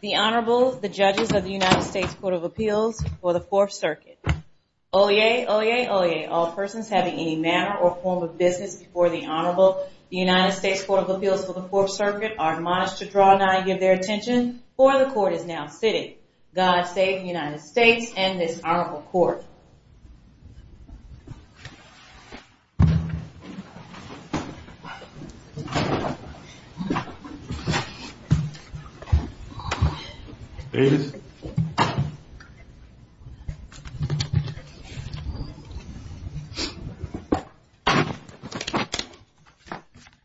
The Honorable, the Judges of the United States Court of Appeals for the Fourth Circuit. Oyez! Oyez! Oyez! All persons having any manner or form of business before the Honorable, the United States Court of Appeals for the Fourth Circuit, are admonished to draw nigh and give their attention, for the Court is now sitting. God save the United States and this Honorable Court. Oyez! Oyez!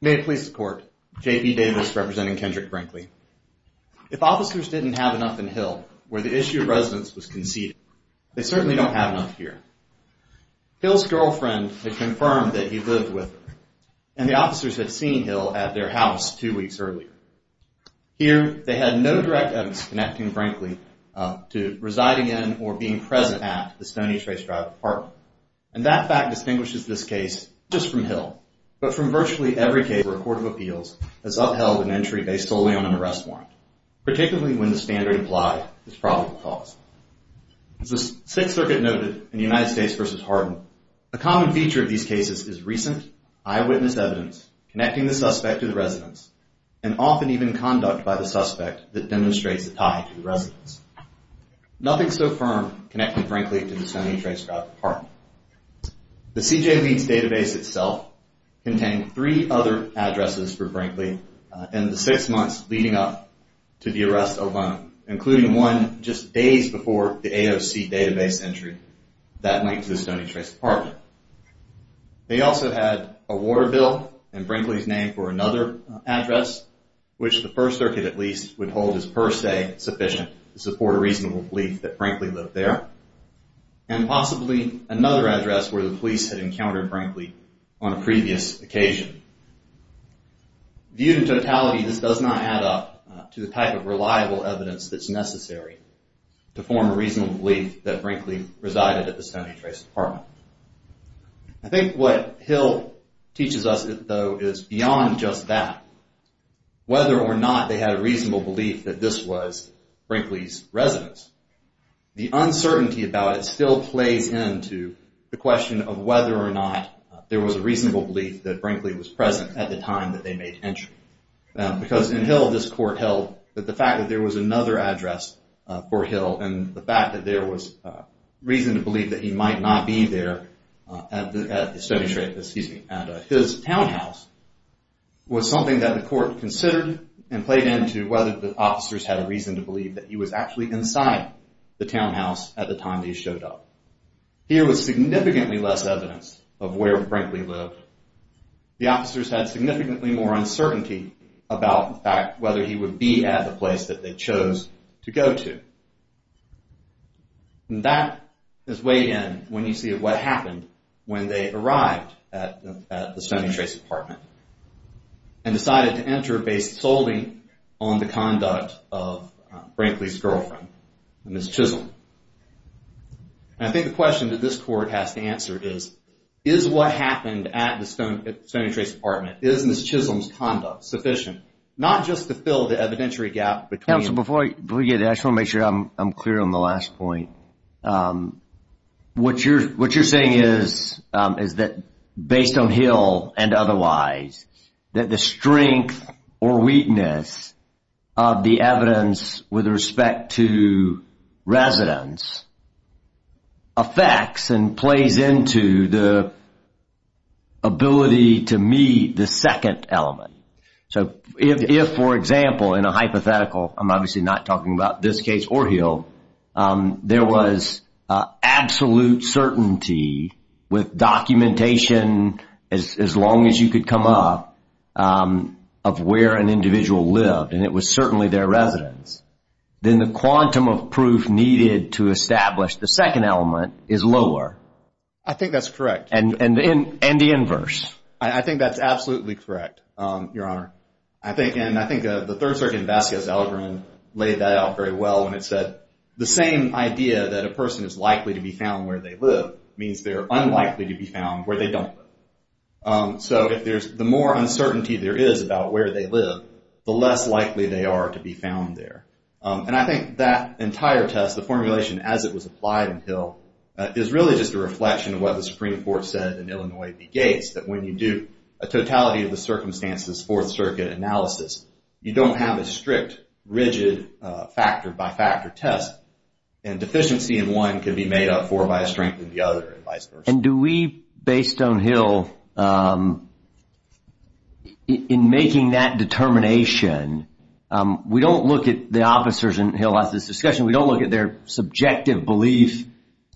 May it please the Court, J. B. Davis, representing Kendrick Brinkley. If officers didn't have enough in Hill, where the issue of residence was conceded, they certainly don't have enough here. Hill's girlfriend had confirmed that he lived with her. And the officers had seen Hill at their house two weeks earlier. Here, they had no direct evidence connecting Brinkley to residing in or being present at the Estonia Trace Drive apartment. And that fact distinguishes this case not just from Hill, but from virtually every case where a court of appeals has upheld an entry based solely on an arrest warrant, particularly when the standard implied is probable cause. As the Sixth Circuit noted in the United States v. Harden, a common feature of these cases is recent, eyewitness evidence connecting the suspect to the residence and often even conduct by the suspect that demonstrates a tie to the residence. Nothing so firm connecting Brinkley to the Estonia Trace Drive apartment. The CJ Leeds database itself contained three other addresses for Brinkley in the six months leading up to the arrest alone, including one just days before the AOC database entry that linked to the Estonia Trace apartment. They also had a Waterville and Brinkley's name for another address, which the First Circuit at least would hold as per se sufficient to support a reasonable belief that Brinkley lived there, and possibly another address where the police had encountered Brinkley on a previous occasion. Viewed in totality, this does not add up to the type of reliable evidence that's necessary to form a reasonable belief that Brinkley resided at the Estonia Trace apartment. I think what Hill teaches us, though, is beyond just that, whether or not they had a reasonable belief that this was Brinkley's residence. The uncertainty about it still plays into the question of whether or not there was a reasonable belief that Brinkley was present at the time that they made entry. Because in Hill, this court held that the fact that there was another address for Hill and the fact that there was reason to believe that he might not be there at his townhouse was something that the court considered and played into whether the officers had a reason to believe that he was actually inside the townhouse at the time that he showed up. Here was significantly less evidence of where Brinkley lived. The officers had significantly more uncertainty about the fact whether he would be at the place that they chose to go to. And that is way in when you see what happened when they arrived at the Estonia Trace apartment and decided to enter based solely on the conduct of Brinkley's girlfriend, Ms. Chisholm. And I think the question that this court has to answer is, is what happened at the Estonia Trace apartment, is Ms. Chisholm's conduct sufficient? Not just to fill the evidentiary gap between... I just want to make sure I'm clear on the last point. What you're saying is that based on Hill and otherwise, that the strength or weakness of the evidence with respect to residence affects and plays into the ability to meet the second element. So if, for example, in a hypothetical, I'm obviously not talking about this case or Hill, there was absolute certainty with documentation as long as you could come up of where an individual lived, and it was certainly their residence, then the quantum of proof needed to establish the second element is lower. I think that's correct. And the inverse. I think that's absolutely correct, Your Honor. And I think the third circuit in Vasquez's algorithm laid that out very well when it said the same idea that a person is likely to be found where they live means they're unlikely to be found where they don't live. So the more uncertainty there is about where they live, the less likely they are to be found there. And I think that entire test, the formulation as it was applied in Hill, is really just a reflection of what the Supreme Court said in Illinois v. Gates, that when you do a totality of the circumstances, fourth circuit analysis, you don't have a strict, rigid factor-by-factor test, and deficiency in one could be made up for by a strength in the other and vice versa. And do we, based on Hill, in making that determination, we don't look at the officers in Hill as this discussion, we don't look at their subjective belief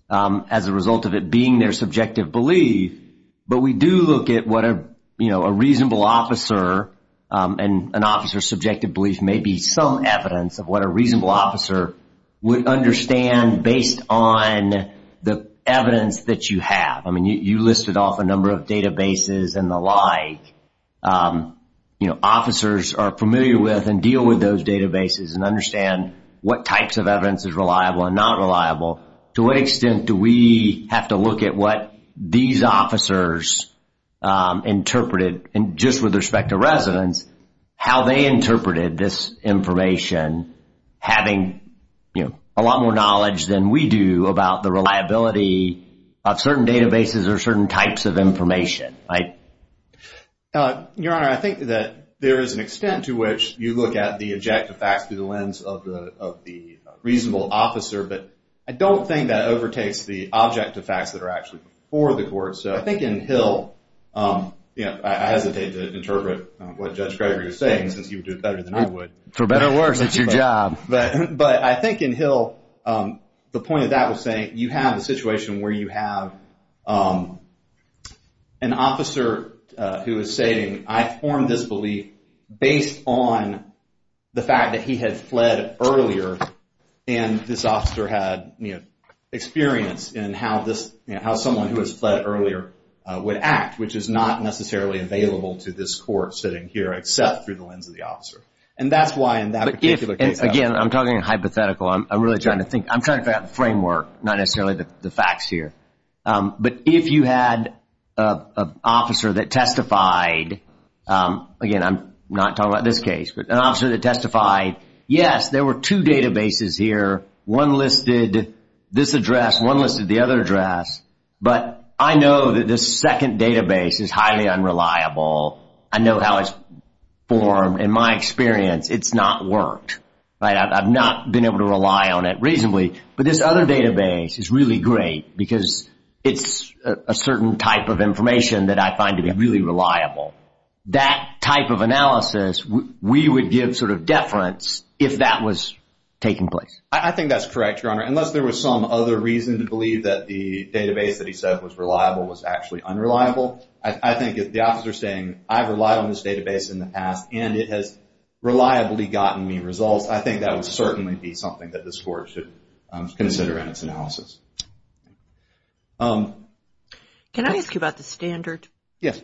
as a result of it being their subjective belief, but we do look at what a reasonable officer and an officer's subjective belief may be some evidence of what a reasonable officer would understand based on the evidence that you have. I mean, you listed off a number of databases and the like. Officers are familiar with and deal with those databases and understand what types of evidence is reliable and not reliable. To what extent do we have to look at what these officers interpreted, and just with respect to residents, how they interpreted this information, having a lot more knowledge than we do about the reliability of certain databases or certain types of information, right? Your Honor, I think that there is an extent to which you look at the objective facts through the lens of the reasonable officer, but I don't think that overtakes the objective facts that are actually before the court. So I think in Hill, I hesitate to interpret what Judge Gregory was saying, since he would do it better than I would. For better or worse, it's your job. But I think in Hill, the point of that was saying you have a situation where you have an officer who is saying, I formed this belief based on the fact that he had fled earlier and this officer had experience in how someone who has fled earlier would act, which is not necessarily available to this court sitting here except through the lens of the officer. And that's why in that particular case— Again, I'm talking hypothetical. I'm trying to figure out the framework, not necessarily the facts here. But if you had an officer that testified— again, I'm not talking about this case— but an officer that testified, yes, there were two databases here, one listed this address, one listed the other address, but I know that this second database is highly unreliable. I know how it's formed. In my experience, it's not worked. I've not been able to rely on it reasonably. But this other database is really great because it's a certain type of information that I find to be really reliable. That type of analysis, we would give sort of deference if that was taking place. I think that's correct, Your Honor, unless there was some other reason to believe that the database that he said was reliable was actually unreliable. I think if the officer is saying, I've relied on this database in the past and it has reliably gotten me results, I think that would certainly be something that this Court should consider in its analysis. Can I ask you about the standard? Yes.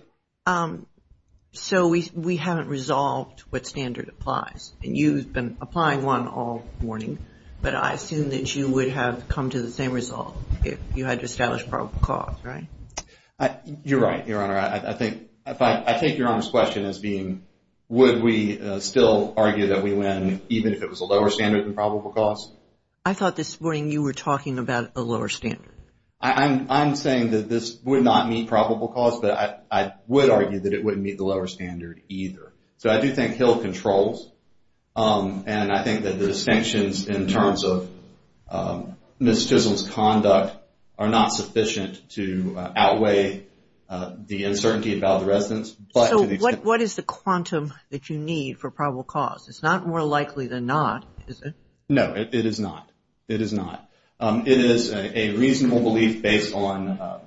So we haven't resolved what standard applies, and you've been applying one all morning, but I assume that you would have come to the same result You're right, Your Honor. I take Your Honor's question as being, would we still argue that we win even if it was a lower standard than probable cause? I thought this morning you were talking about a lower standard. I'm saying that this would not meet probable cause, but I would argue that it wouldn't meet the lower standard either. So I do think Hill controls, and I think that the distinctions in terms of Ms. Chisel's conduct are not sufficient to outweigh the uncertainty about the residence. So what is the quantum that you need for probable cause? It's not more likely than not, is it? No, it is not. It is not. It is a reasonable belief based on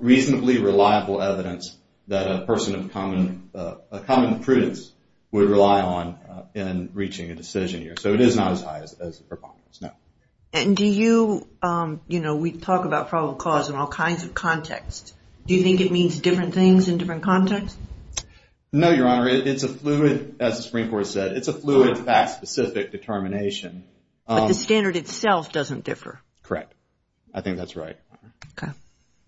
reasonably reliable evidence that a person of common prudence would rely on in reaching a decision here. So it is not as high as the preponderance, no. And do you, you know, we talk about probable cause in all kinds of contexts. Do you think it means different things in different contexts? No, Your Honor. It's a fluid, as the Supreme Court said, it's a fluid fact-specific determination. But the standard itself doesn't differ. Correct. I think that's right. Okay.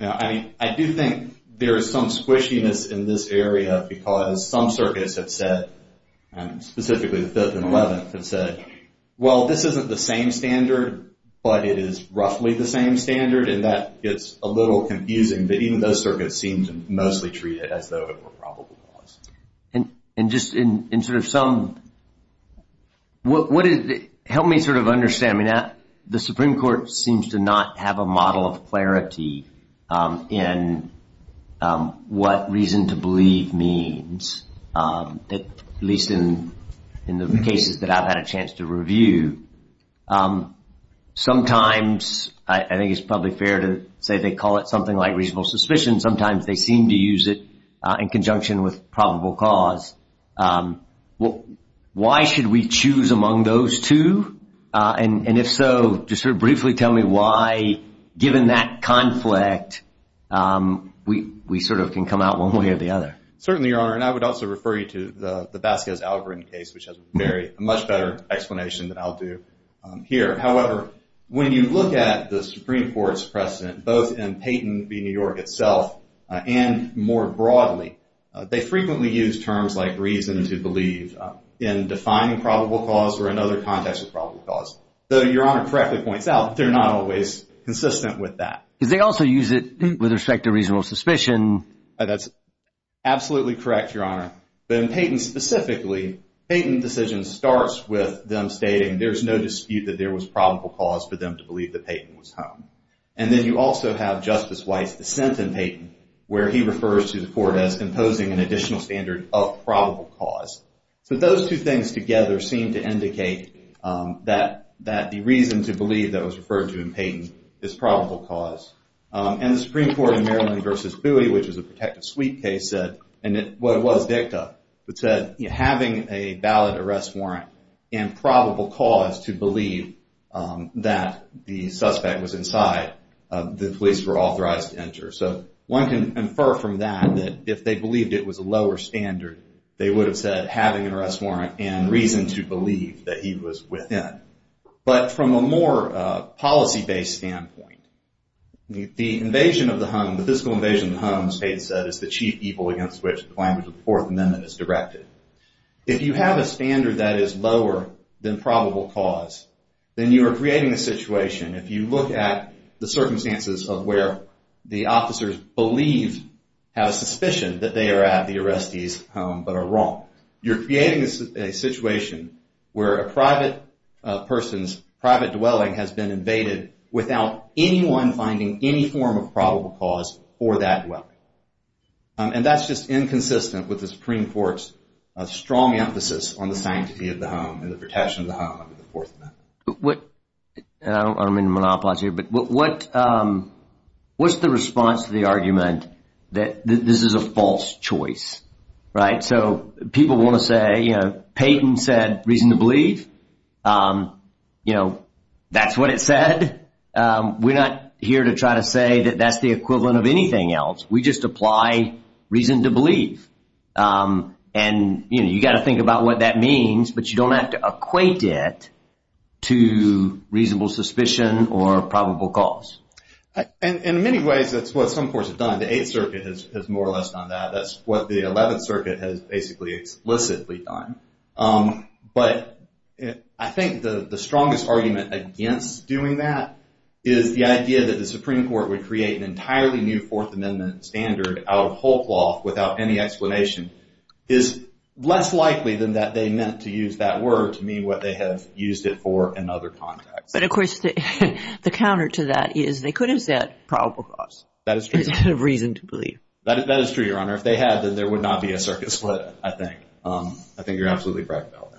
Now, I mean, I do think there is some squishiness in this area because some circuits have said, specifically the 5th and 11th have said, well, this isn't the same standard, but it is roughly the same standard, and that gets a little confusing. But even those circuits seem to mostly treat it as though it were probable cause. And just in sort of some, what is, help me sort of understand. I mean, the Supreme Court seems to not have a model of clarity in what reason to believe means, at least in the cases that I've had a chance to review. Sometimes, I think it's probably fair to say they call it something like reasonable suspicion. Sometimes they seem to use it in conjunction with probable cause. Why should we choose among those two? And if so, just sort of briefly tell me why, given that conflict, we sort of can come out one way or the other. Certainly, Your Honor, and I would also refer you to the Vasquez algorithm case, which has a much better explanation than I'll do here. However, when you look at the Supreme Court's precedent, both in Peyton v. New York itself and more broadly, they frequently use terms like reason to believe in defining probable cause or another context of probable cause. Though Your Honor correctly points out they're not always consistent with that. Because they also use it with respect to reasonable suspicion. That's absolutely correct, Your Honor. But in Peyton specifically, Peyton's decision starts with them stating there's no dispute that there was probable cause for them to believe that Peyton was home. And then you also have Justice White's dissent in Peyton, where he refers to the court as imposing an additional standard of probable cause. So those two things together seem to indicate that the reason to believe that was referred to in Peyton is probable cause. And the Supreme Court in Maryland v. Cluity, which is a protective suite case, and what it was dicta, it said having a valid arrest warrant and probable cause to believe that the suspect was inside, the police were authorized to enter. So one can infer from that that if they believed it was a lower standard, they would have said having an arrest warrant and reason to believe that he was within. But from a more policy-based standpoint, the invasion of the home, the physical invasion of the home, as Peyton said, is the chief evil against which the language of the Fourth Amendment is directed. If you have a standard that is lower than probable cause, then you are creating a situation, if you look at the circumstances of where the officers believe, have a suspicion that they are at the arrestee's home, but are wrong. You're creating a situation where a private person's private dwelling has been invaded without anyone finding any form of probable cause for that dwelling. And that's just inconsistent with the Supreme Court's strong emphasis on the sanctity of the home and the protection of the home under the Fourth Amendment. I don't mean to monopolize here, but what's the response to the argument that this is a false choice, right? So people want to say, you know, Peyton said reason to believe. You know, that's what it said. We're not here to try to say that that's the equivalent of anything else. We just apply reason to believe. And, you know, you've got to think about what that means, but you don't have to equate it to reasonable suspicion or probable cause. In many ways, that's what some courts have done. The Eighth Circuit has more or less done that. That's what the Eleventh Circuit has basically explicitly done. But I think the strongest argument against doing that is the idea that the Supreme Court would create an entirely new Fourth Amendment standard out of whole cloth without any explanation is less likely than that they meant to use that word to mean what they have used it for in other contexts. But, of course, the counter to that is they could have said probable cause. That is true. Instead of reason to believe. That is true, Your Honor. If they had, then there would not be a circuit split, I think. I think you're absolutely correct about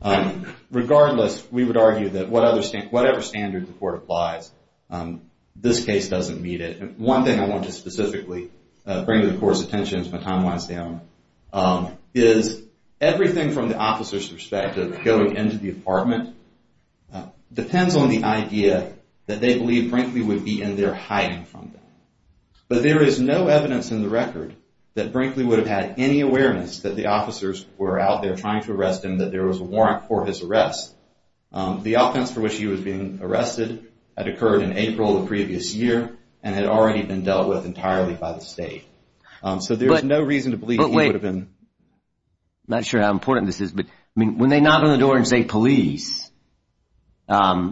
that. Regardless, we would argue that whatever standard the court applies, this case doesn't meet it. One thing I want to specifically bring to the court's attention as my time winds down is everything from the officer's perspective going into the apartment depends on the idea that they believe, frankly, would be in there hiding from them. But there is no evidence in the record that Brinkley would have had any awareness that the officers were out there trying to arrest him, that there was a warrant for his arrest. The offense for which he was being arrested had occurred in April the previous year and had already been dealt with entirely by the state. So there is no reason to believe he would have been... But wait. I'm not sure how important this is, but when they knock on the door and say police, I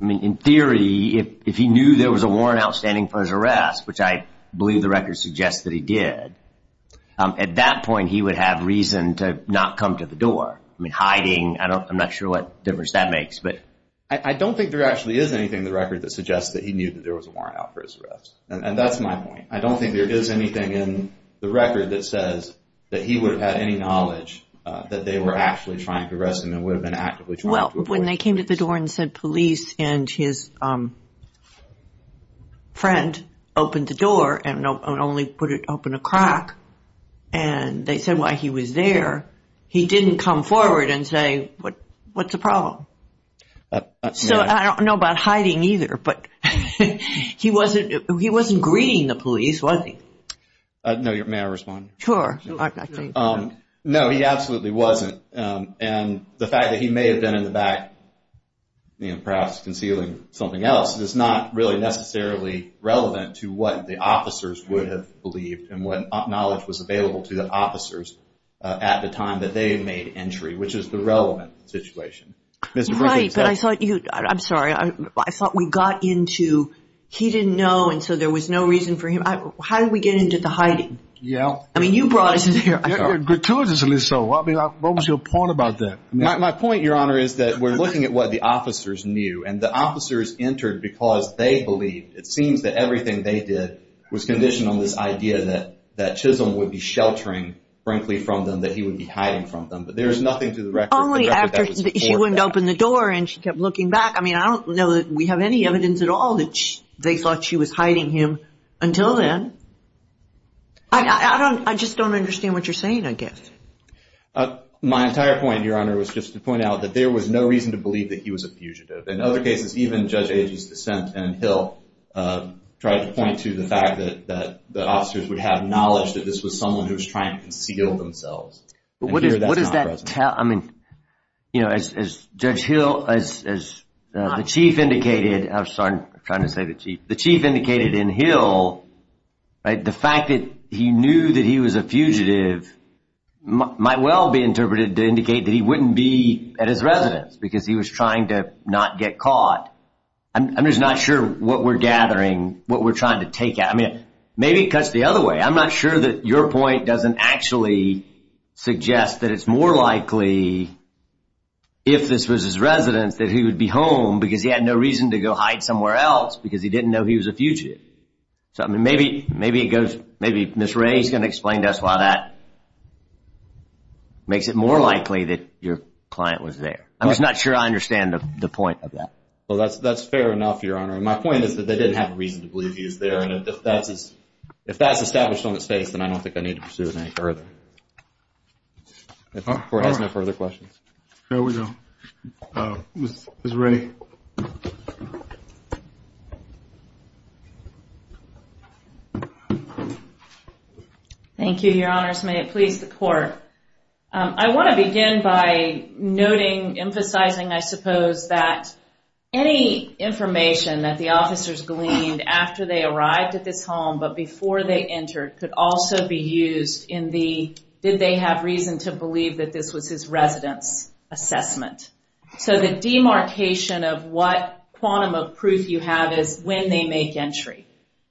mean, in theory, if he knew there was a warrant outstanding for his arrest, which I believe the record suggests that he did, at that point he would have reason to not come to the door. I mean, hiding, I'm not sure what difference that makes, but... I don't think there actually is anything in the record that suggests that he knew that there was a warrant out for his arrest. And that's my point. I don't think there is anything in the record that says that he would have had any knowledge that they were actually trying to arrest him and would have been actively trying to... Well, when they came to the door and said police and his friend opened the door and only put it open a crack and they said why he was there, he didn't come forward and say, what's the problem? So I don't know about hiding either, but he wasn't greeting the police, was he? No, may I respond? Sure. No, he absolutely wasn't. And the fact that he may have been in the back perhaps concealing something else is not really necessarily relevant to what the officers would have believed and what knowledge was available to the officers at the time that they made entry, which is the relevant situation. Right, but I thought you, I'm sorry, I thought we got into he didn't know and so there was no reason for him. How did we get into the hiding? Yeah. I mean, you brought us into here. Gratuitously so. I mean, what was your point about that? My point, Your Honor, is that we're looking at what the officers knew and the officers entered because they believed it seems that everything they did was conditioned on this idea that Chisholm would be sheltering, frankly, from them, that he would be hiding from them. But there is nothing to the record. Only after she went and opened the door and she kept looking back. I mean, I don't know that we have any evidence at all that they thought she was hiding him until then. I just don't understand what you're saying, I guess. My entire point, Your Honor, was just to point out that there was no reason to believe that he was a fugitive. In other cases, even Judge Agee's dissent and Hill tried to point to the fact that the officers would have knowledge that this was someone who was trying to conceal themselves. What does that tell, I mean, you know, as Judge Hill, as the Chief indicated, I'm sorry, I'm trying to say the Chief, the Chief indicated in Hill, right, the fact that he knew that he was a fugitive might well be interpreted to indicate that he wouldn't be at his residence because he was trying to not get caught. I'm just not sure what we're gathering, what we're trying to take out. I mean, maybe it cuts the other way. I'm not sure that your point doesn't actually suggest that it's more likely, if this was his residence, that he would be home because he had no reason to go hide somewhere else because he didn't know he was a fugitive. So, I mean, maybe it goes, maybe Ms. Ray's going to explain to us why that makes it more likely that your client was there. I'm just not sure I understand the point of that. Well, that's fair enough, Your Honor, and my point is that they didn't have a reason to believe he was there, and if that's established on its face, then I don't think I need to pursue it any further. If the Court has no further questions. Here we go. Ms. Ray. Thank you, Your Honors. May it please the Court. I want to begin by noting, emphasizing, I suppose, that any information that the officers gleaned after they arrived at this home, but before they entered, could also be used in the did they have reason to believe that this was his residence assessment. So the demarcation of what quantum of proof you have is when they make entry.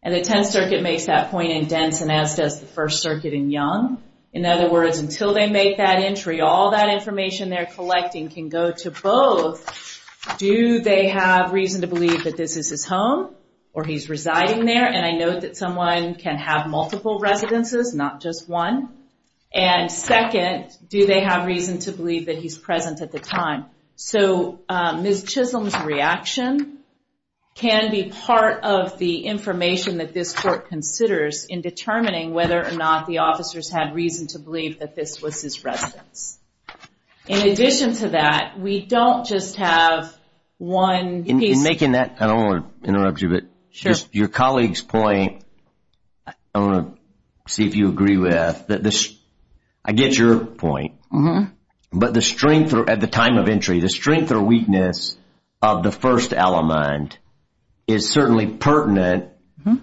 And the Tenth Circuit makes that point in Denton, as does the First Circuit in Young. In other words, until they make that entry, all that information they're collecting can go to both Do they have reason to believe that this is his home, or he's residing there? And I note that someone can have multiple residences, not just one. And second, do they have reason to believe that he's present at the time? So Ms. Chisholm's reaction can be part of the information that this Court considers in determining whether or not the officers had reason to believe that this was his residence. In addition to that, we don't just have one piece... In making that, I don't want to interrupt you, but your colleague's point, I want to see if you agree with, I get your point. But the strength, at the time of entry, the strength or weakness of the first element is certainly pertinent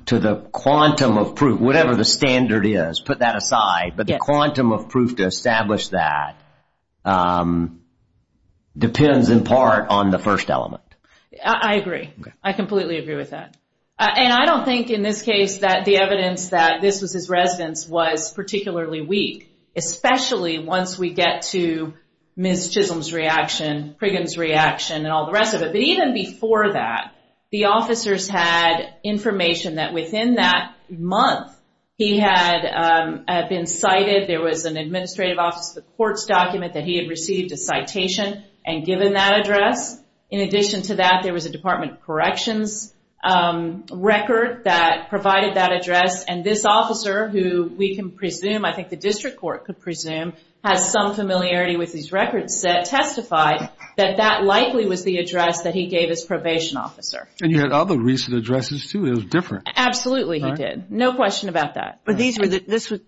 to the quantum of proof, whatever the standard is, put that aside. But the quantum of proof to establish that depends in part on the first element. I agree. I completely agree with that. And I don't think in this case that the evidence that this was his residence was particularly weak. Especially once we get to Ms. Chisholm's reaction, Priggen's reaction, and all the rest of it. But even before that, the officers had information that within that month he had been cited, there was an administrative office of the court's document that he had received a citation and given that address. In addition to that, there was a Department of Corrections record that provided that address. And this officer, who we can presume, I think the District Court could presume, has some familiarity with these records, testified that that likely was the address that he gave his probation officer. And you had other recent addresses too, it was different. Absolutely he did. No question about that. But these were the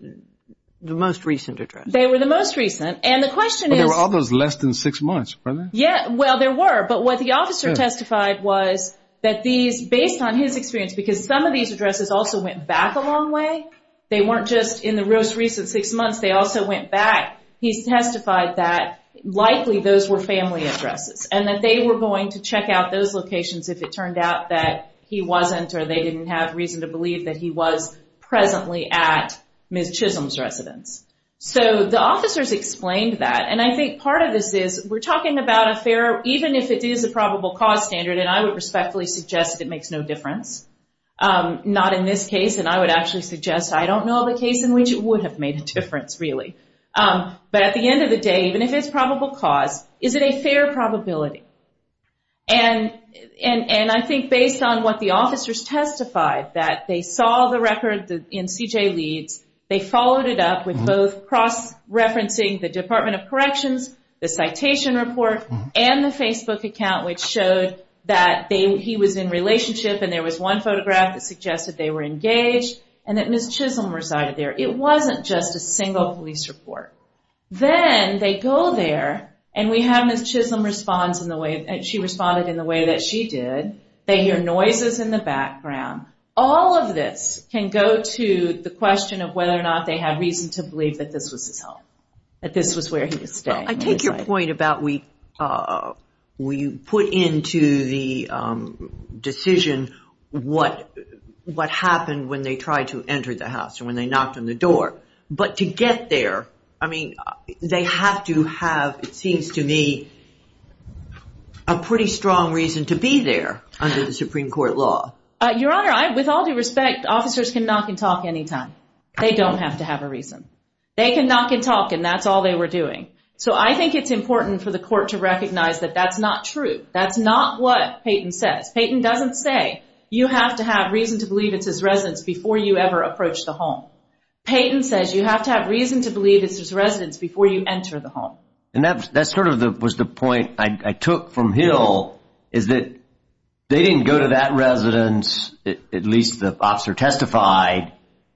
most recent addresses. They were the most recent. And the question is... But there were others less than six months, weren't there? Yeah, well, there were. But what the officer testified was that these, based on his experience, because some of these addresses also went back a long way. They weren't just in the most recent six months, they also went back. He testified that likely those were family addresses. And that they were going to check out those locations if it turned out that he wasn't or they didn't have reason to believe that he was presently at Ms. Chisholm's residence. So the officers explained that. And I think part of this is we're talking about a fair, even if it is a probable cause standard, and I would respectfully suggest it makes no difference. Not in this case, and I would actually suggest I don't know of a case in which it would have made a difference, really. But at the end of the day, even if it's probable cause, is it a fair probability? And I think based on what the officers testified, that they saw the record in C.J. Leeds, they followed it up with both cross-referencing the Department of Corrections, the citation report, and the Facebook account, which showed that he was in relationship and there was one photograph that suggested they were engaged and that Ms. Chisholm resided there. It wasn't just a single police report. Then they go there and we have Ms. Chisholm respond in the way that she did. They hear noises in the background. All of this can go to the question of whether or not they had reason to believe that this was his home, that this was where he was staying. I take your point about we put into the decision what happened when they tried to enter the house and when they knocked on the door. But to get there, I mean, they have to have, it seems to me, a pretty strong reason to be there under the Supreme Court law. Your Honor, with all due respect, officers can knock and talk anytime. They don't have to have a reason. They can knock and talk and that's all they were doing. So I think it's important for the court to recognize that that's not true. That's not what Peyton says. Peyton doesn't say you have to have reason to believe it's his residence before you ever approach the home. Peyton says you have to have reason to believe it's his residence before you enter the home. And that sort of was the point I took from Hill is that they didn't go to that residence, at least the officer testified,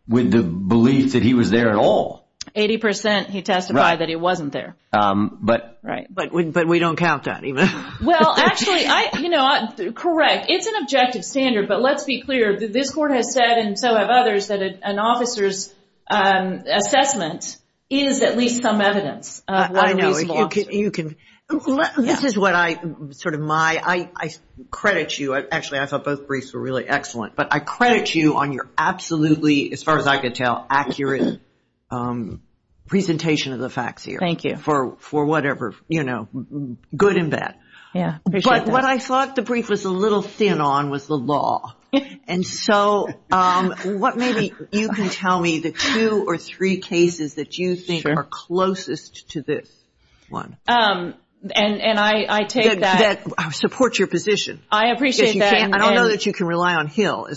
with the belief that he was there at all. Eighty percent he testified that he wasn't there. Right, but we don't count that either. Well, actually, you know, correct. It's an objective standard, but let's be clear. This court has said and so have others that an officer's assessment is at least some evidence. I know. This is what I sort of my, I credit you. Actually, I thought both briefs were really excellent. But I credit you on your absolutely, as far as I could tell, accurate presentation of the facts here. Thank you. For whatever, you know, good and bad. But what I thought the brief was a little thin on was the law. And so what maybe you can tell me the two or three cases that you think are closest to this one. And I take that. That support your position. I appreciate that. I don't know that you can rely on Hill.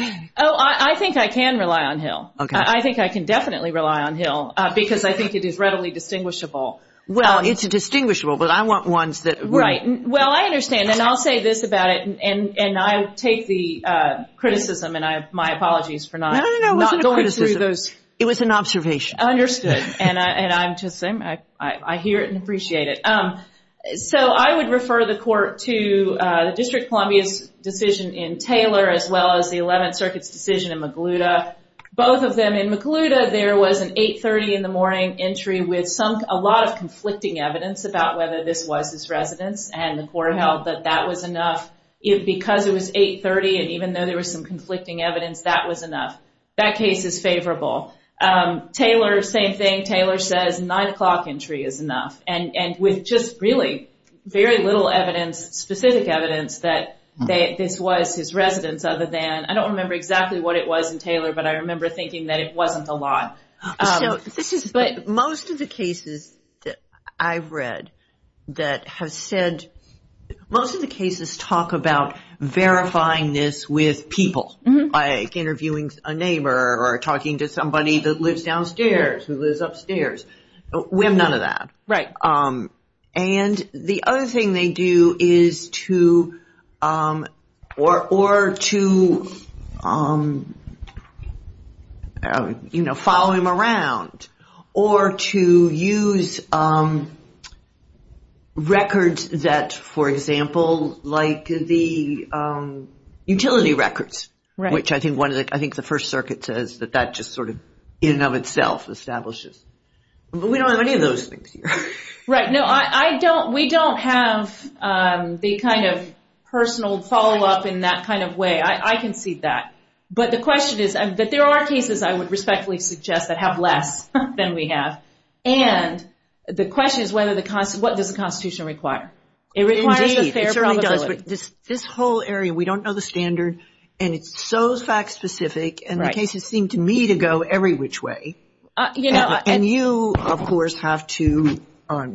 Oh, I think I can rely on Hill. Okay. I think I can definitely rely on Hill because I think it is readily distinguishable. Well, it's a distinguishable, but I want ones that. Right. Well, I understand. And I'll say this about it. And I take the criticism. And my apologies for not going through those. It was an observation. Understood. And I'm just saying I hear it and appreciate it. So I would refer the court to the District of Columbia's decision in Taylor as well as the 11th Circuit's decision in Magluda. Both of them. In Magluda, there was an 830 in the morning entry with a lot of conflicting evidence about whether this was his residence. And the court held that that was enough because it was 830. And even though there was some conflicting evidence, that was enough. That case is favorable. Taylor, same thing. Taylor says 9 o'clock entry is enough. And with just really very little evidence, specific evidence, that this was his residence other than. I don't remember exactly what it was in Taylor, but I remember thinking that it wasn't a lot. But most of the cases that I've read that have said. Most of the cases talk about verifying this with people. Like interviewing a neighbor or talking to somebody that lives downstairs who lives upstairs. We have none of that. Right. And the other thing they do is to or to, you know, follow him around. Or to use records that, for example, like the utility records. Right. Which I think the First Circuit says that that just sort of in and of itself establishes. But we don't have any of those things here. Right. No, I don't. We don't have the kind of personal follow-up in that kind of way. I can see that. But the question is that there are cases, I would respectfully suggest, that have less than we have. And the question is what does the Constitution require? It requires a fair probability. Indeed, it certainly does. But this whole area, we don't know the standard. And it's so fact-specific. And the cases seem to me to go every which way. And you, of course, have to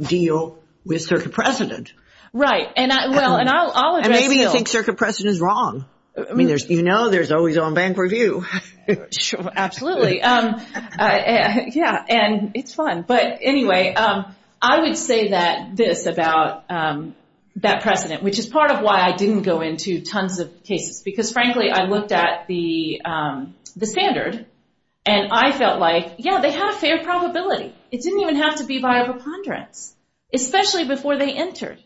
deal with circuit precedent. Right. And I'll address that. And maybe you think circuit precedent is wrong. I mean, you know there's always own bank review. Absolutely. Yeah. And it's fun. But anyway, I would say this about that precedent, which is part of why I didn't go into tons of cases. Because, frankly, I looked at the standard. And I felt like, yeah, they have a fair probability. It didn't even have to be by a preponderance, especially before they entered.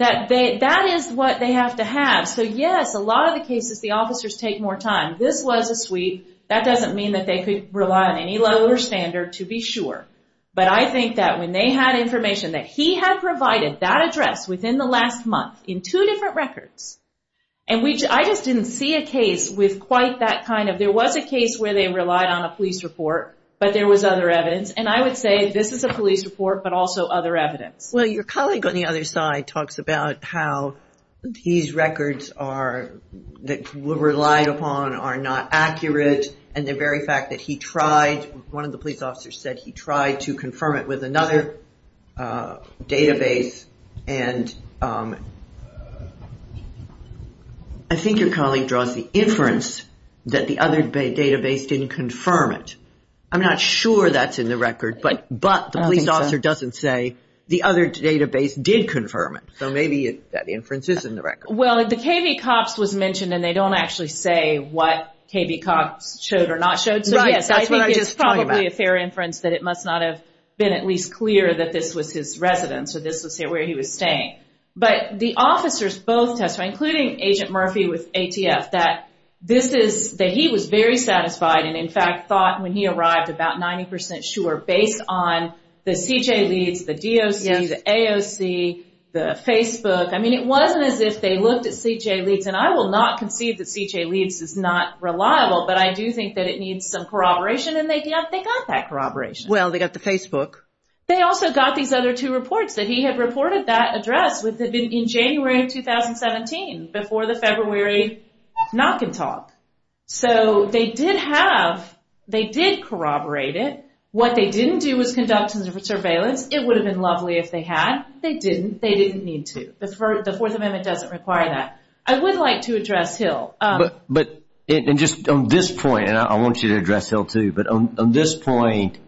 That is what they have to have. So, yes, a lot of the cases the officers take more time. This was a sweep. That doesn't mean that they could rely on any lower standard, to be sure. But I think that when they had information, that he had provided that address within the last month in two different records. And I just didn't see a case with quite that kind of. There was a case where they relied on a police report, but there was other evidence. And I would say this is a police report, but also other evidence. Well, your colleague on the other side talks about how these records that were relied upon are not accurate. And the very fact that he tried, one of the police officers said he tried to confirm it with another database. And I think your colleague draws the inference that the other database didn't confirm it. I'm not sure that's in the record, but the police officer doesn't say the other database did confirm it. So maybe that inference is in the record. Well, the KB COPS was mentioned, and they don't actually say what KB COPS showed or not showed. So, yes, I think it's probably a fair inference that it must not have been at least clear that this was his residence or this was where he was staying. But the officers both testified, including Agent Murphy with ATF, that he was very satisfied and, in fact, thought when he arrived about 90 percent sure based on the C.J. Leeds, the DOC, the AOC, the Facebook. I mean, it wasn't as if they looked at C.J. Leeds. And I will not concede that C.J. Leeds is not reliable, but I do think that it needs some corroboration. And they got that corroboration. Well, they got the Facebook. They also got these other two reports that he had reported that address in January of 2017, before the February knock and talk. So they did have, they did corroborate it. What they didn't do was conduct surveillance. It would have been lovely if they had. They didn't. They didn't need to. The Fourth Amendment doesn't require that. I would like to address Hill. And just on this point, and I want you to address Hill too, but on this point,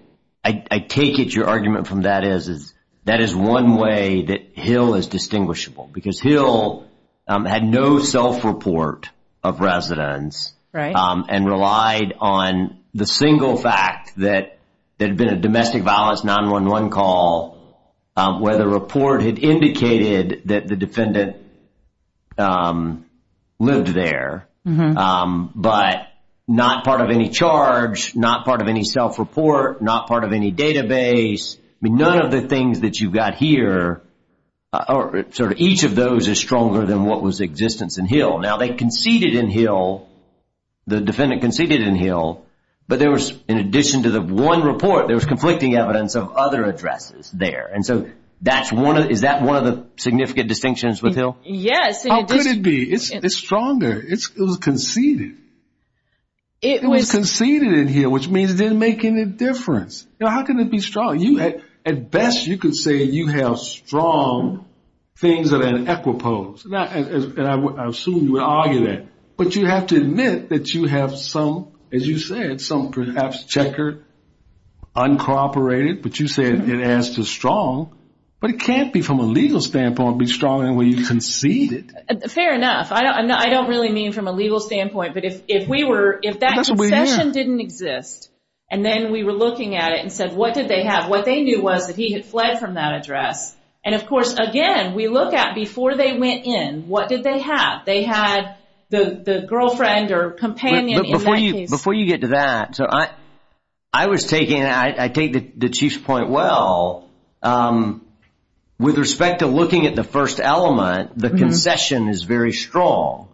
I take it your argument from that is that is one way that Hill is distinguishable. Because Hill had no self-report of residence and relied on the single fact that there had been a domestic violence 911 call where the report had indicated that the defendant lived there, but not part of any charge, not part of any self-report, not part of any database. I mean, none of the things that you've got here, sort of each of those is stronger than what was existence in Hill. Now, they conceded in Hill, the defendant conceded in Hill, but there was, in addition to the one report, there was conflicting evidence of other addresses there. And so is that one of the significant distinctions with Hill? Yes. How could it be? It's stronger. It was conceded. It was conceded in Hill, which means it didn't make any difference. Now, how can it be strong? At best, you could say you have strong things that are in equipoise, and I assume you would argue that. But you have to admit that you have some, as you said, some perhaps checker uncooperated, but you say it adds to strong. But it can't be, from a legal standpoint, be stronger than when you conceded. Fair enough. I don't really mean from a legal standpoint, but if that concession didn't exist, and then we were looking at it and said, what did they have? What they knew was that he had fled from that address. And, of course, again, we look at before they went in, what did they have? They had the girlfriend or companion in that case. Before you get to that, I take the Chief's point well. With respect to looking at the first element, the concession is very strong.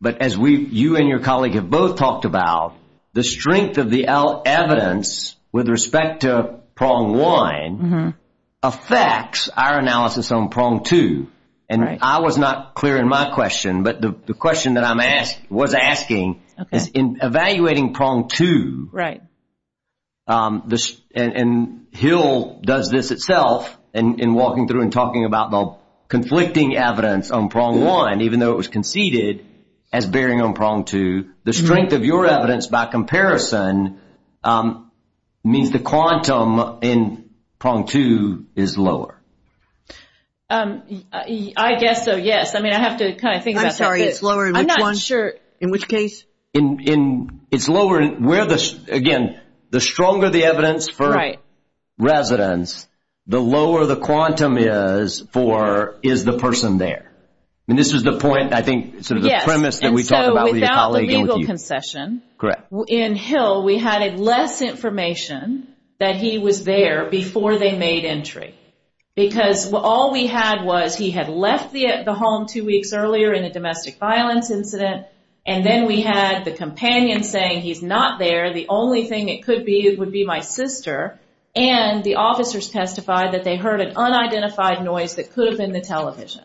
But as you and your colleague have both talked about, the strength of the evidence with respect to prong one affects our analysis on prong two. And I was not clear in my question, but the question that I was asking is, in evaluating prong two, and Hill does this itself, in walking through and talking about the conflicting evidence on prong one, even though it was conceded as bearing on prong two, the strength of your evidence by comparison means the quantum in prong two is lower. I guess so, yes. I mean, I have to kind of think about that. I'm sorry. It's lower in which one? I'm not sure. In which case? It's lower. Again, the stronger the evidence for residents, the lower the quantum is for is the person there. I mean, this is the point, I think, sort of the premise that we talked about with your colleague. Yes, and so without the legal concession, in Hill, we had less information that he was there before they made entry, because all we had was he had left the home two weeks earlier in a domestic violence incident, and then we had the companion saying he's not there, the only thing it could be would be my sister, and the officers testified that they heard an unidentified noise that could have been the television.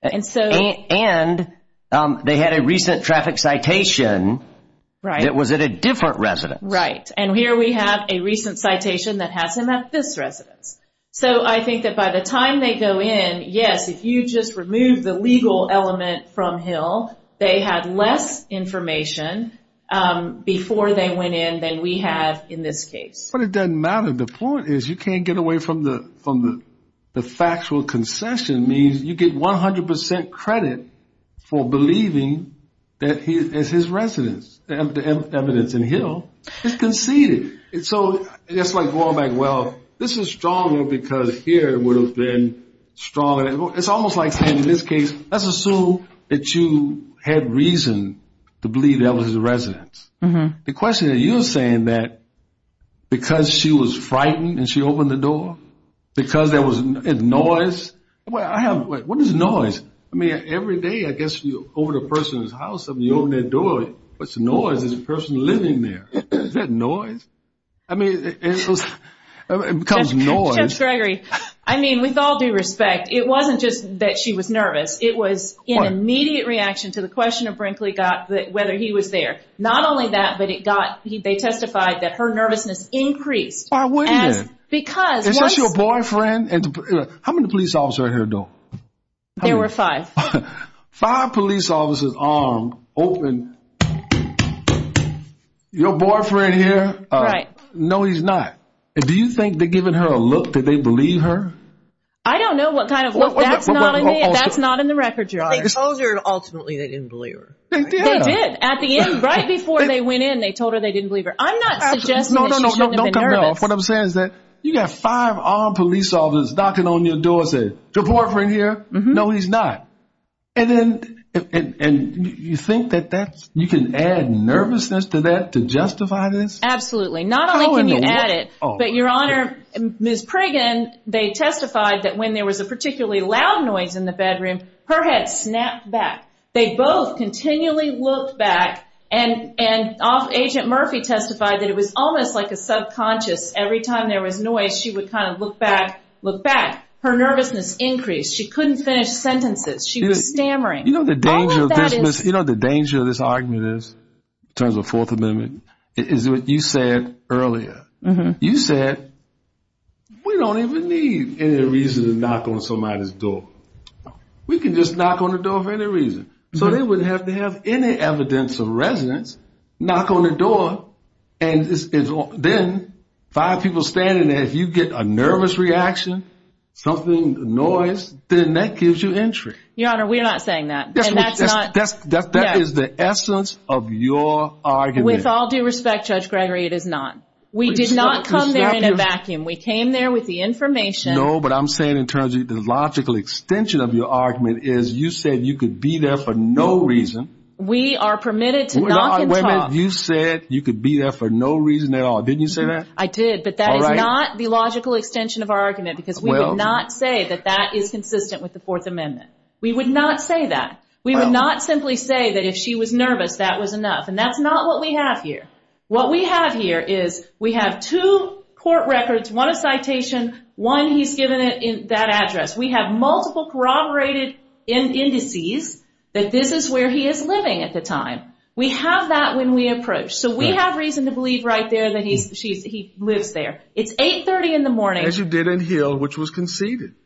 And they had a recent traffic citation that was at a different residence. Right, and here we have a recent citation that has him at this residence. So I think that by the time they go in, yes, if you just remove the legal element from Hill, they had less information before they went in than we have in this case. But it doesn't matter. The point is you can't get away from the factual concession means you get 100 percent credit for believing that it's his residence. The evidence in Hill is conceded. And so it's like going back, well, this is stronger because here it would have been stronger. It's almost like saying in this case, let's assume that you had reason to believe that was his residence. The question that you were saying that because she was frightened and she opened the door, because there was noise, what is noise? I mean, every day I guess you open a person's house and you open their door, what's noise is a person living there. Is that noise? I mean, it becomes noise. Judge Gregory, I mean, with all due respect, it wasn't just that she was nervous. It was an immediate reaction to the question of Brinkley whether he was there. Not only that, but they testified that her nervousness increased. Why would he? Because. Is this your boyfriend? How many police officers are here though? There were five. Five police officers armed, open. Your boyfriend here? Right. No, he's not. Do you think they're giving her a look? Did they believe her? I don't know what kind of look. That's not in the record, Your Honor. They told her ultimately they didn't believe her. They did. At the end, right before they went in, they told her they didn't believe her. I'm not suggesting that she shouldn't have been nervous. No, no, no. What I'm saying is that you got five armed police officers knocking on your door saying, your boyfriend here? No, he's not. And you think that you can add nervousness to that to justify this? Absolutely. Not only can you add it. But, Your Honor, Ms. Pragen, they testified that when there was a particularly loud noise in the bedroom, her head snapped back. They both continually looked back. And Agent Murphy testified that it was almost like a subconscious. Every time there was noise, she would kind of look back, look back. Her nervousness increased. She couldn't finish sentences. She was stammering. You know what the danger of this argument is, in terms of the Fourth Amendment, is what you said earlier. You said, we don't even need any reason to knock on somebody's door. We can just knock on the door for any reason. So they wouldn't have to have any evidence of resonance, knock on the door, and then five people standing there. If you get a nervous reaction, something, noise, then that gives you entry. Your Honor, we're not saying that. That is the essence of your argument. With all due respect, Judge Gregory, it is not. We did not come there in a vacuum. We came there with the information. No, but I'm saying, in terms of the logical extension of your argument, is you said you could be there for no reason. We are permitted to knock and talk. Wait a minute. You said you could be there for no reason at all. Didn't you say that? I did. But that is not the logical extension of our argument, because we would not say that that is consistent with the Fourth Amendment. We would not say that. We would not simply say that if she was nervous, that was enough. And that's not what we have here. What we have here is we have two court records, one a citation, one he's given that address. We have multiple corroborated indices that this is where he is living at the time. We have that when we approach. So we have reason to believe right there that he lives there. It's 830 in the morning. As you did in Hill, which was conceded.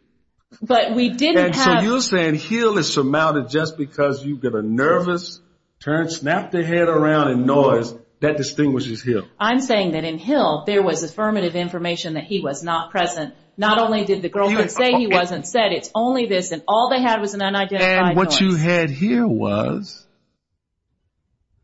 So you're saying Hill is surmounted just because you get a nervous turn, snap their head around in noise, that distinguishes Hill. I'm saying that in Hill there was affirmative information that he was not present. Not only did the girlfriend say he wasn't said, it's only this, and all they had was an unidentified noise. And what you had here was,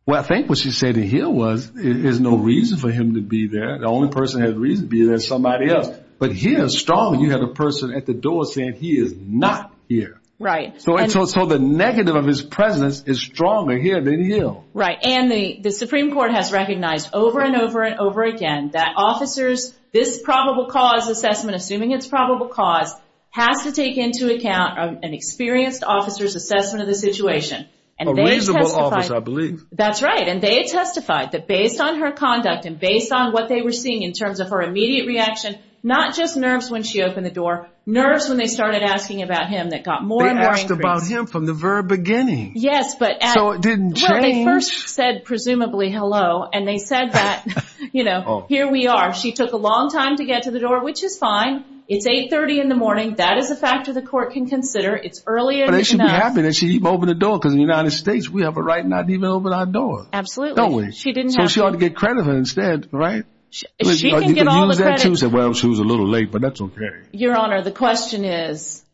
well, I think what you said in Hill was, there's no reason for him to be there. The only person that had reason to be there is somebody else. But here, strongly, you have a person at the door saying he is not here. Right. So the negative of his presence is stronger here than in Hill. Right. And the Supreme Court has recognized over and over and over again that officers, this probable cause assessment, assuming it's probable cause, has to take into account an experienced officer's assessment of the situation. A reasonable officer, I believe. That's right. And they testified that based on her conduct and based on what they were seeing in terms of her immediate reaction, not just nerves when she opened the door, nerves when they started asking about him that got more and more increased. They asked about him from the very beginning. Yes. So it didn't change. Well, they first said, presumably, hello, and they said that, you know, here we are. She took a long time to get to the door, which is fine. It's 830 in the morning. That is a factor the court can consider. It's early enough. But they should be happy that she opened the door, because in the United States we have a right not to even open our door. Absolutely. So she ought to get credit for it instead, right? She can get all the credit. Well, she was a little late, but that's okay. Your Honor, the question is,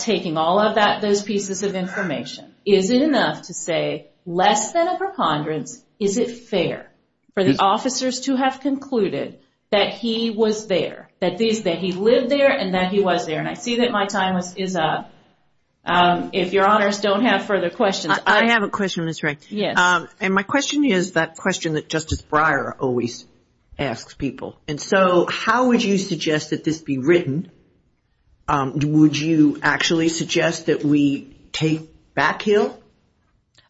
taking all of those pieces of information, is it enough to say, less than a preponderance, is it fair for the officers to have concluded that he was there, that he lived there and that he was there? And I see that my time is up. If Your Honors don't have further questions. I have a question, Ms. Wright. Yes. And my question is that question that Justice Breyer always asks people. And so how would you suggest that this be written? Would you actually suggest that we take back Hill?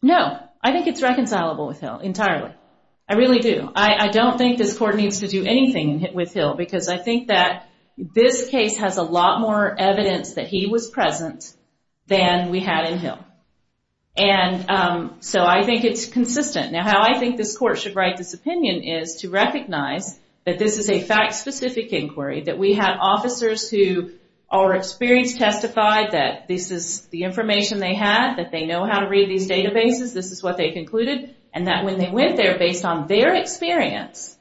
No. I think it's reconcilable with Hill entirely. I really do. I don't think this court needs to do anything with Hill, because I think that this case has a lot more evidence that he was present than we had in Hill. And so I think it's consistent. Now, how I think this court should write this opinion is to recognize that this is a fact-specific inquiry, that we have officers who are experienced, testified that this is the information they had, that they know how to read these databases, this is what they concluded, and that when they went there based on their experience,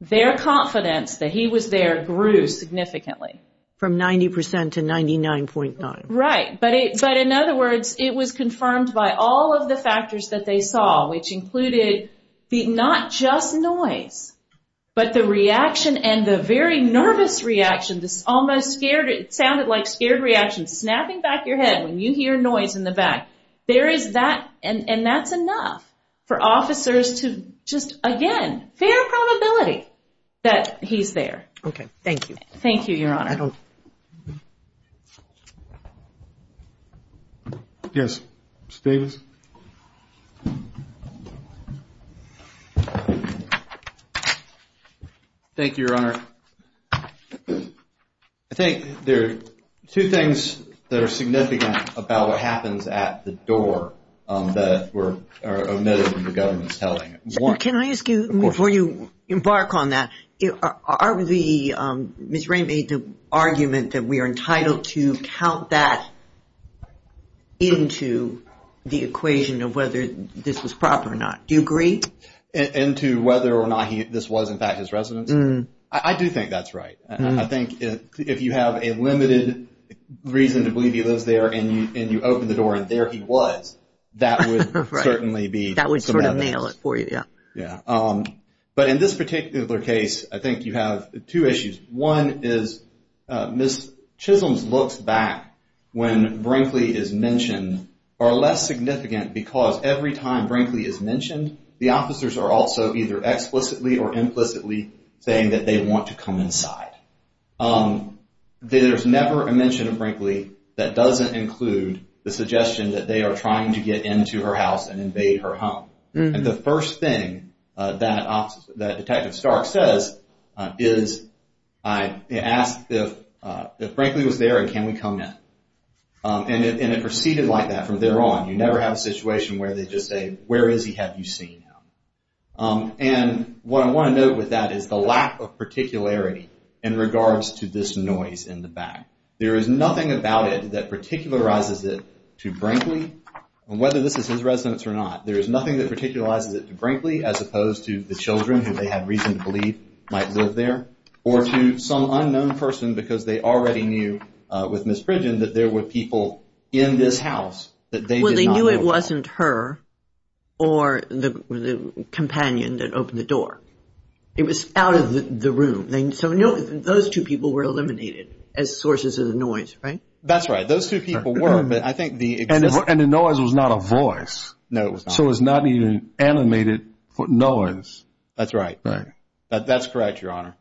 their confidence that he was there grew significantly. From 90% to 99.9%. Right. But in other words, it was confirmed by all of the factors that they saw, which included not just noise, but the reaction and the very nervous reaction, this almost sounded like scared reaction, snapping back your head when you hear noise in the back. There is that, and that's enough for officers to just, again, fair probability that he's there. Okay. Thank you. Thank you, Your Honor. I don't. Yes, Mr. Davis. Thank you, Your Honor. I think there are two things that are significant about what happens at the door that are omitted from the government's telling. Can I ask you, before you embark on that, Ms. Ray made the argument that we are entitled to count that into the equation of whether this was proper or not. Do you agree? Into whether or not this was, in fact, his residence? I do think that's right. I think if you have a limited reason to believe he lives there, and you open the door and there he was, that would certainly be some evidence. That would sort of nail it for you, yeah. But in this particular case, I think you have two issues. One is Ms. Chisholm's looks back when Brinkley is mentioned are less significant because every time Brinkley is mentioned, the officers are also either explicitly or implicitly saying that they want to come inside. There's never a mention of Brinkley that doesn't include the suggestion that they are trying to get into her house and invade her home. And the first thing that Detective Stark says is, I asked if Brinkley was there and can we come in? And it proceeded like that from there on. You never have a situation where they just say, where is he, have you seen him? And what I want to note with that is the lack of particularity in regards to this noise in the back. There is nothing about it that particularizes it to Brinkley, whether this is his residence or not. There is nothing that particularizes it to Brinkley as opposed to the children who they had reason to believe might live there or to some unknown person because they already knew with Ms. Pridgen that there were people in this house that they did not know about. Well, they knew it wasn't her or the companion that opened the door. It was out of the room. So those two people were eliminated as sources of the noise, right? That's right. Those two people were, but I think the And the noise was not a voice. No, it was not. So it was not even animated noise. That's right. That's correct, Your Honor.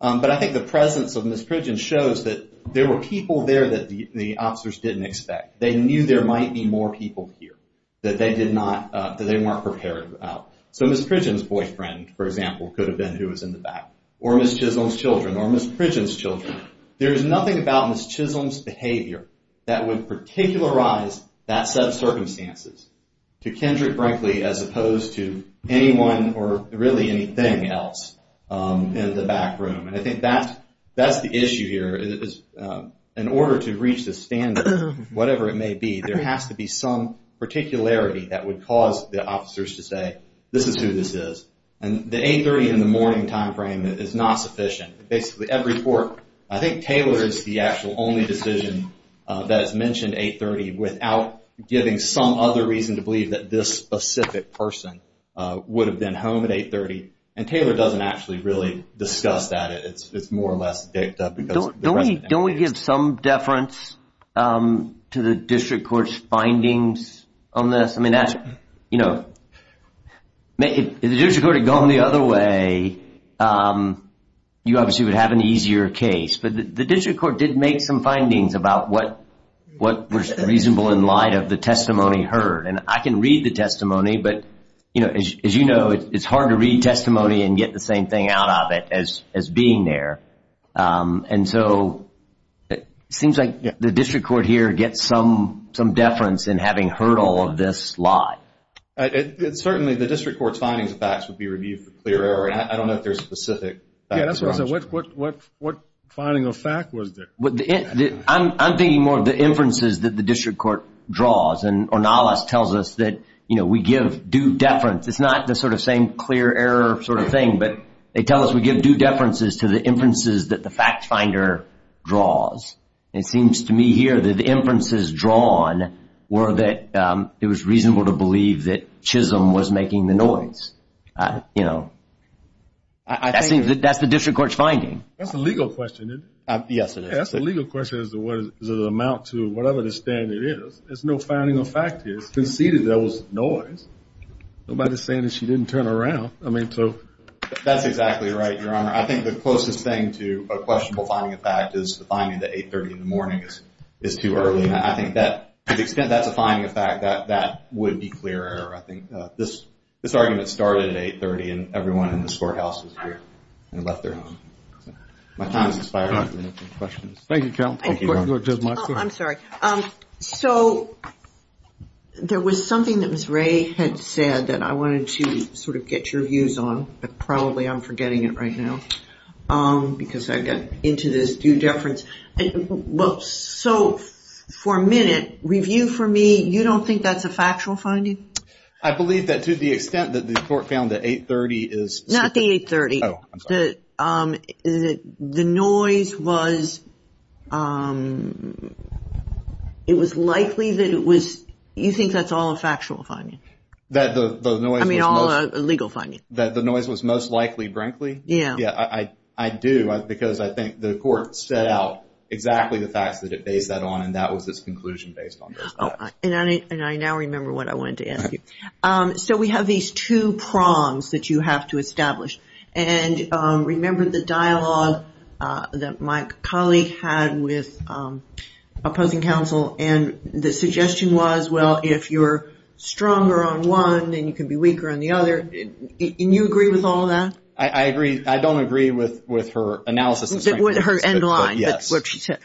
But I think the presence of Ms. Pridgen shows that there were people there that the officers didn't expect. They knew there might be more people here that they weren't prepared about. So Ms. Pridgen's boyfriend, for example, could have been who was in the back or Ms. Chisholm's children or Ms. Pridgen's children. There is nothing about Ms. Chisholm's behavior that would particularize that set of circumstances to Kendrick Brinkley as opposed to anyone or really anything else in the back room. And I think that's the issue here. In order to reach the standard, whatever it may be, there has to be some particularity that would cause the officers to say, this is who this is. And the 830 in the morning time frame is not sufficient. Basically every court, I think, Taylor is the actual only decision that has mentioned 830 without giving some other reason to believe that this specific person would have been home at 830. And Taylor doesn't actually really discuss that. It's more or less picked up. Don't we give some deference to the district court's findings on this? I mean, if the district court had gone the other way, you obviously would have an easier case. But the district court did make some findings about what was reasonable in light of the testimony heard. And I can read the testimony. But, you know, as you know, it's hard to read testimony and get the same thing out of it as being there. And so it seems like the district court here gets some deference in having heard all of this lie. Certainly the district court's findings facts would be reviewed for clear error. I don't know if there's specific facts. Okay, that's what I was going to say. What finding of fact was there? I'm thinking more of the inferences that the district court draws. And Ornalas tells us that, you know, we give due deference. It's not the sort of same clear error sort of thing, but they tell us we give due deference to the inferences that the fact finder draws. It seems to me here that the inferences drawn were that it was reasonable to believe that Chisholm was making the noise. You know, that's the district court's finding. That's a legal question, isn't it? Yes, it is. That's a legal question as to the amount to whatever the standard is. There's no finding of fact here. It's conceded there was noise. Nobody's saying that she didn't turn around. That's exactly right, Your Honor. I think the closest thing to a questionable finding of fact is the finding that 830 in the morning is too early. And I think to the extent that's a finding of fact, that would be clear error. I think this argument started at 830 and everyone in this courthouse was here and left their home. My time is expired. Any questions? Thank you, counsel. Thank you, Your Honor. I'm sorry. So there was something that Ms. Ray had said that I wanted to sort of get your views on, but probably I'm forgetting it right now because I got into this due deference. So for a minute, review for me, you don't think that's a factual finding? I believe that to the extent that the court found that 830 is... Not the 830. Oh, I'm sorry. The noise was likely that it was... You think that's all a factual finding? That the noise was most... I mean, all a legal finding. That the noise was most likely, frankly? Yeah. Yeah, I do because I think the court set out exactly the facts that it based that on and that was its conclusion based on those facts. And I now remember what I wanted to ask you. So we have these two prongs that you have to establish. And remember the dialogue that my colleague had with opposing counsel and the suggestion was, well, if you're stronger on one, then you can be weaker on the other. And you agree with all of that? I agree. I don't agree with her analysis. Her end line. Yes,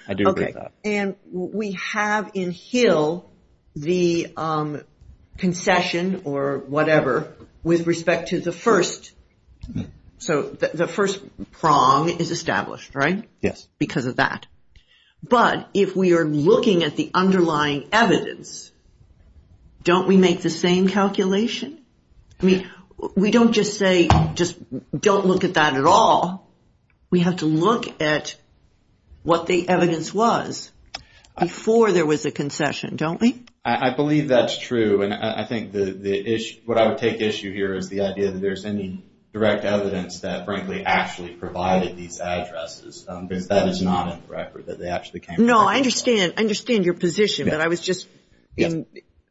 I do agree with that. And we have in Hill the concession or whatever with respect to the first. So the first prong is established, right? Yes. Because of that. But if we are looking at the underlying evidence, don't we make the same calculation? I mean, we don't just say, just don't look at that at all. We have to look at what the evidence was before there was a concession, don't we? I believe that's true. And I think what I would take issue here is the idea that there's any direct evidence that frankly actually provided these addresses. Because that is not in the record that they actually came from. No, I understand. I understand your position.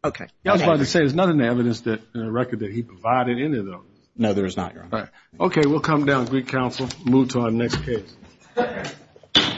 Okay. I was about to say, there's not an evidence in the record that he provided any of those. No, there is not, Your Honor. Okay, we'll come down to Greek Council and move to our next case.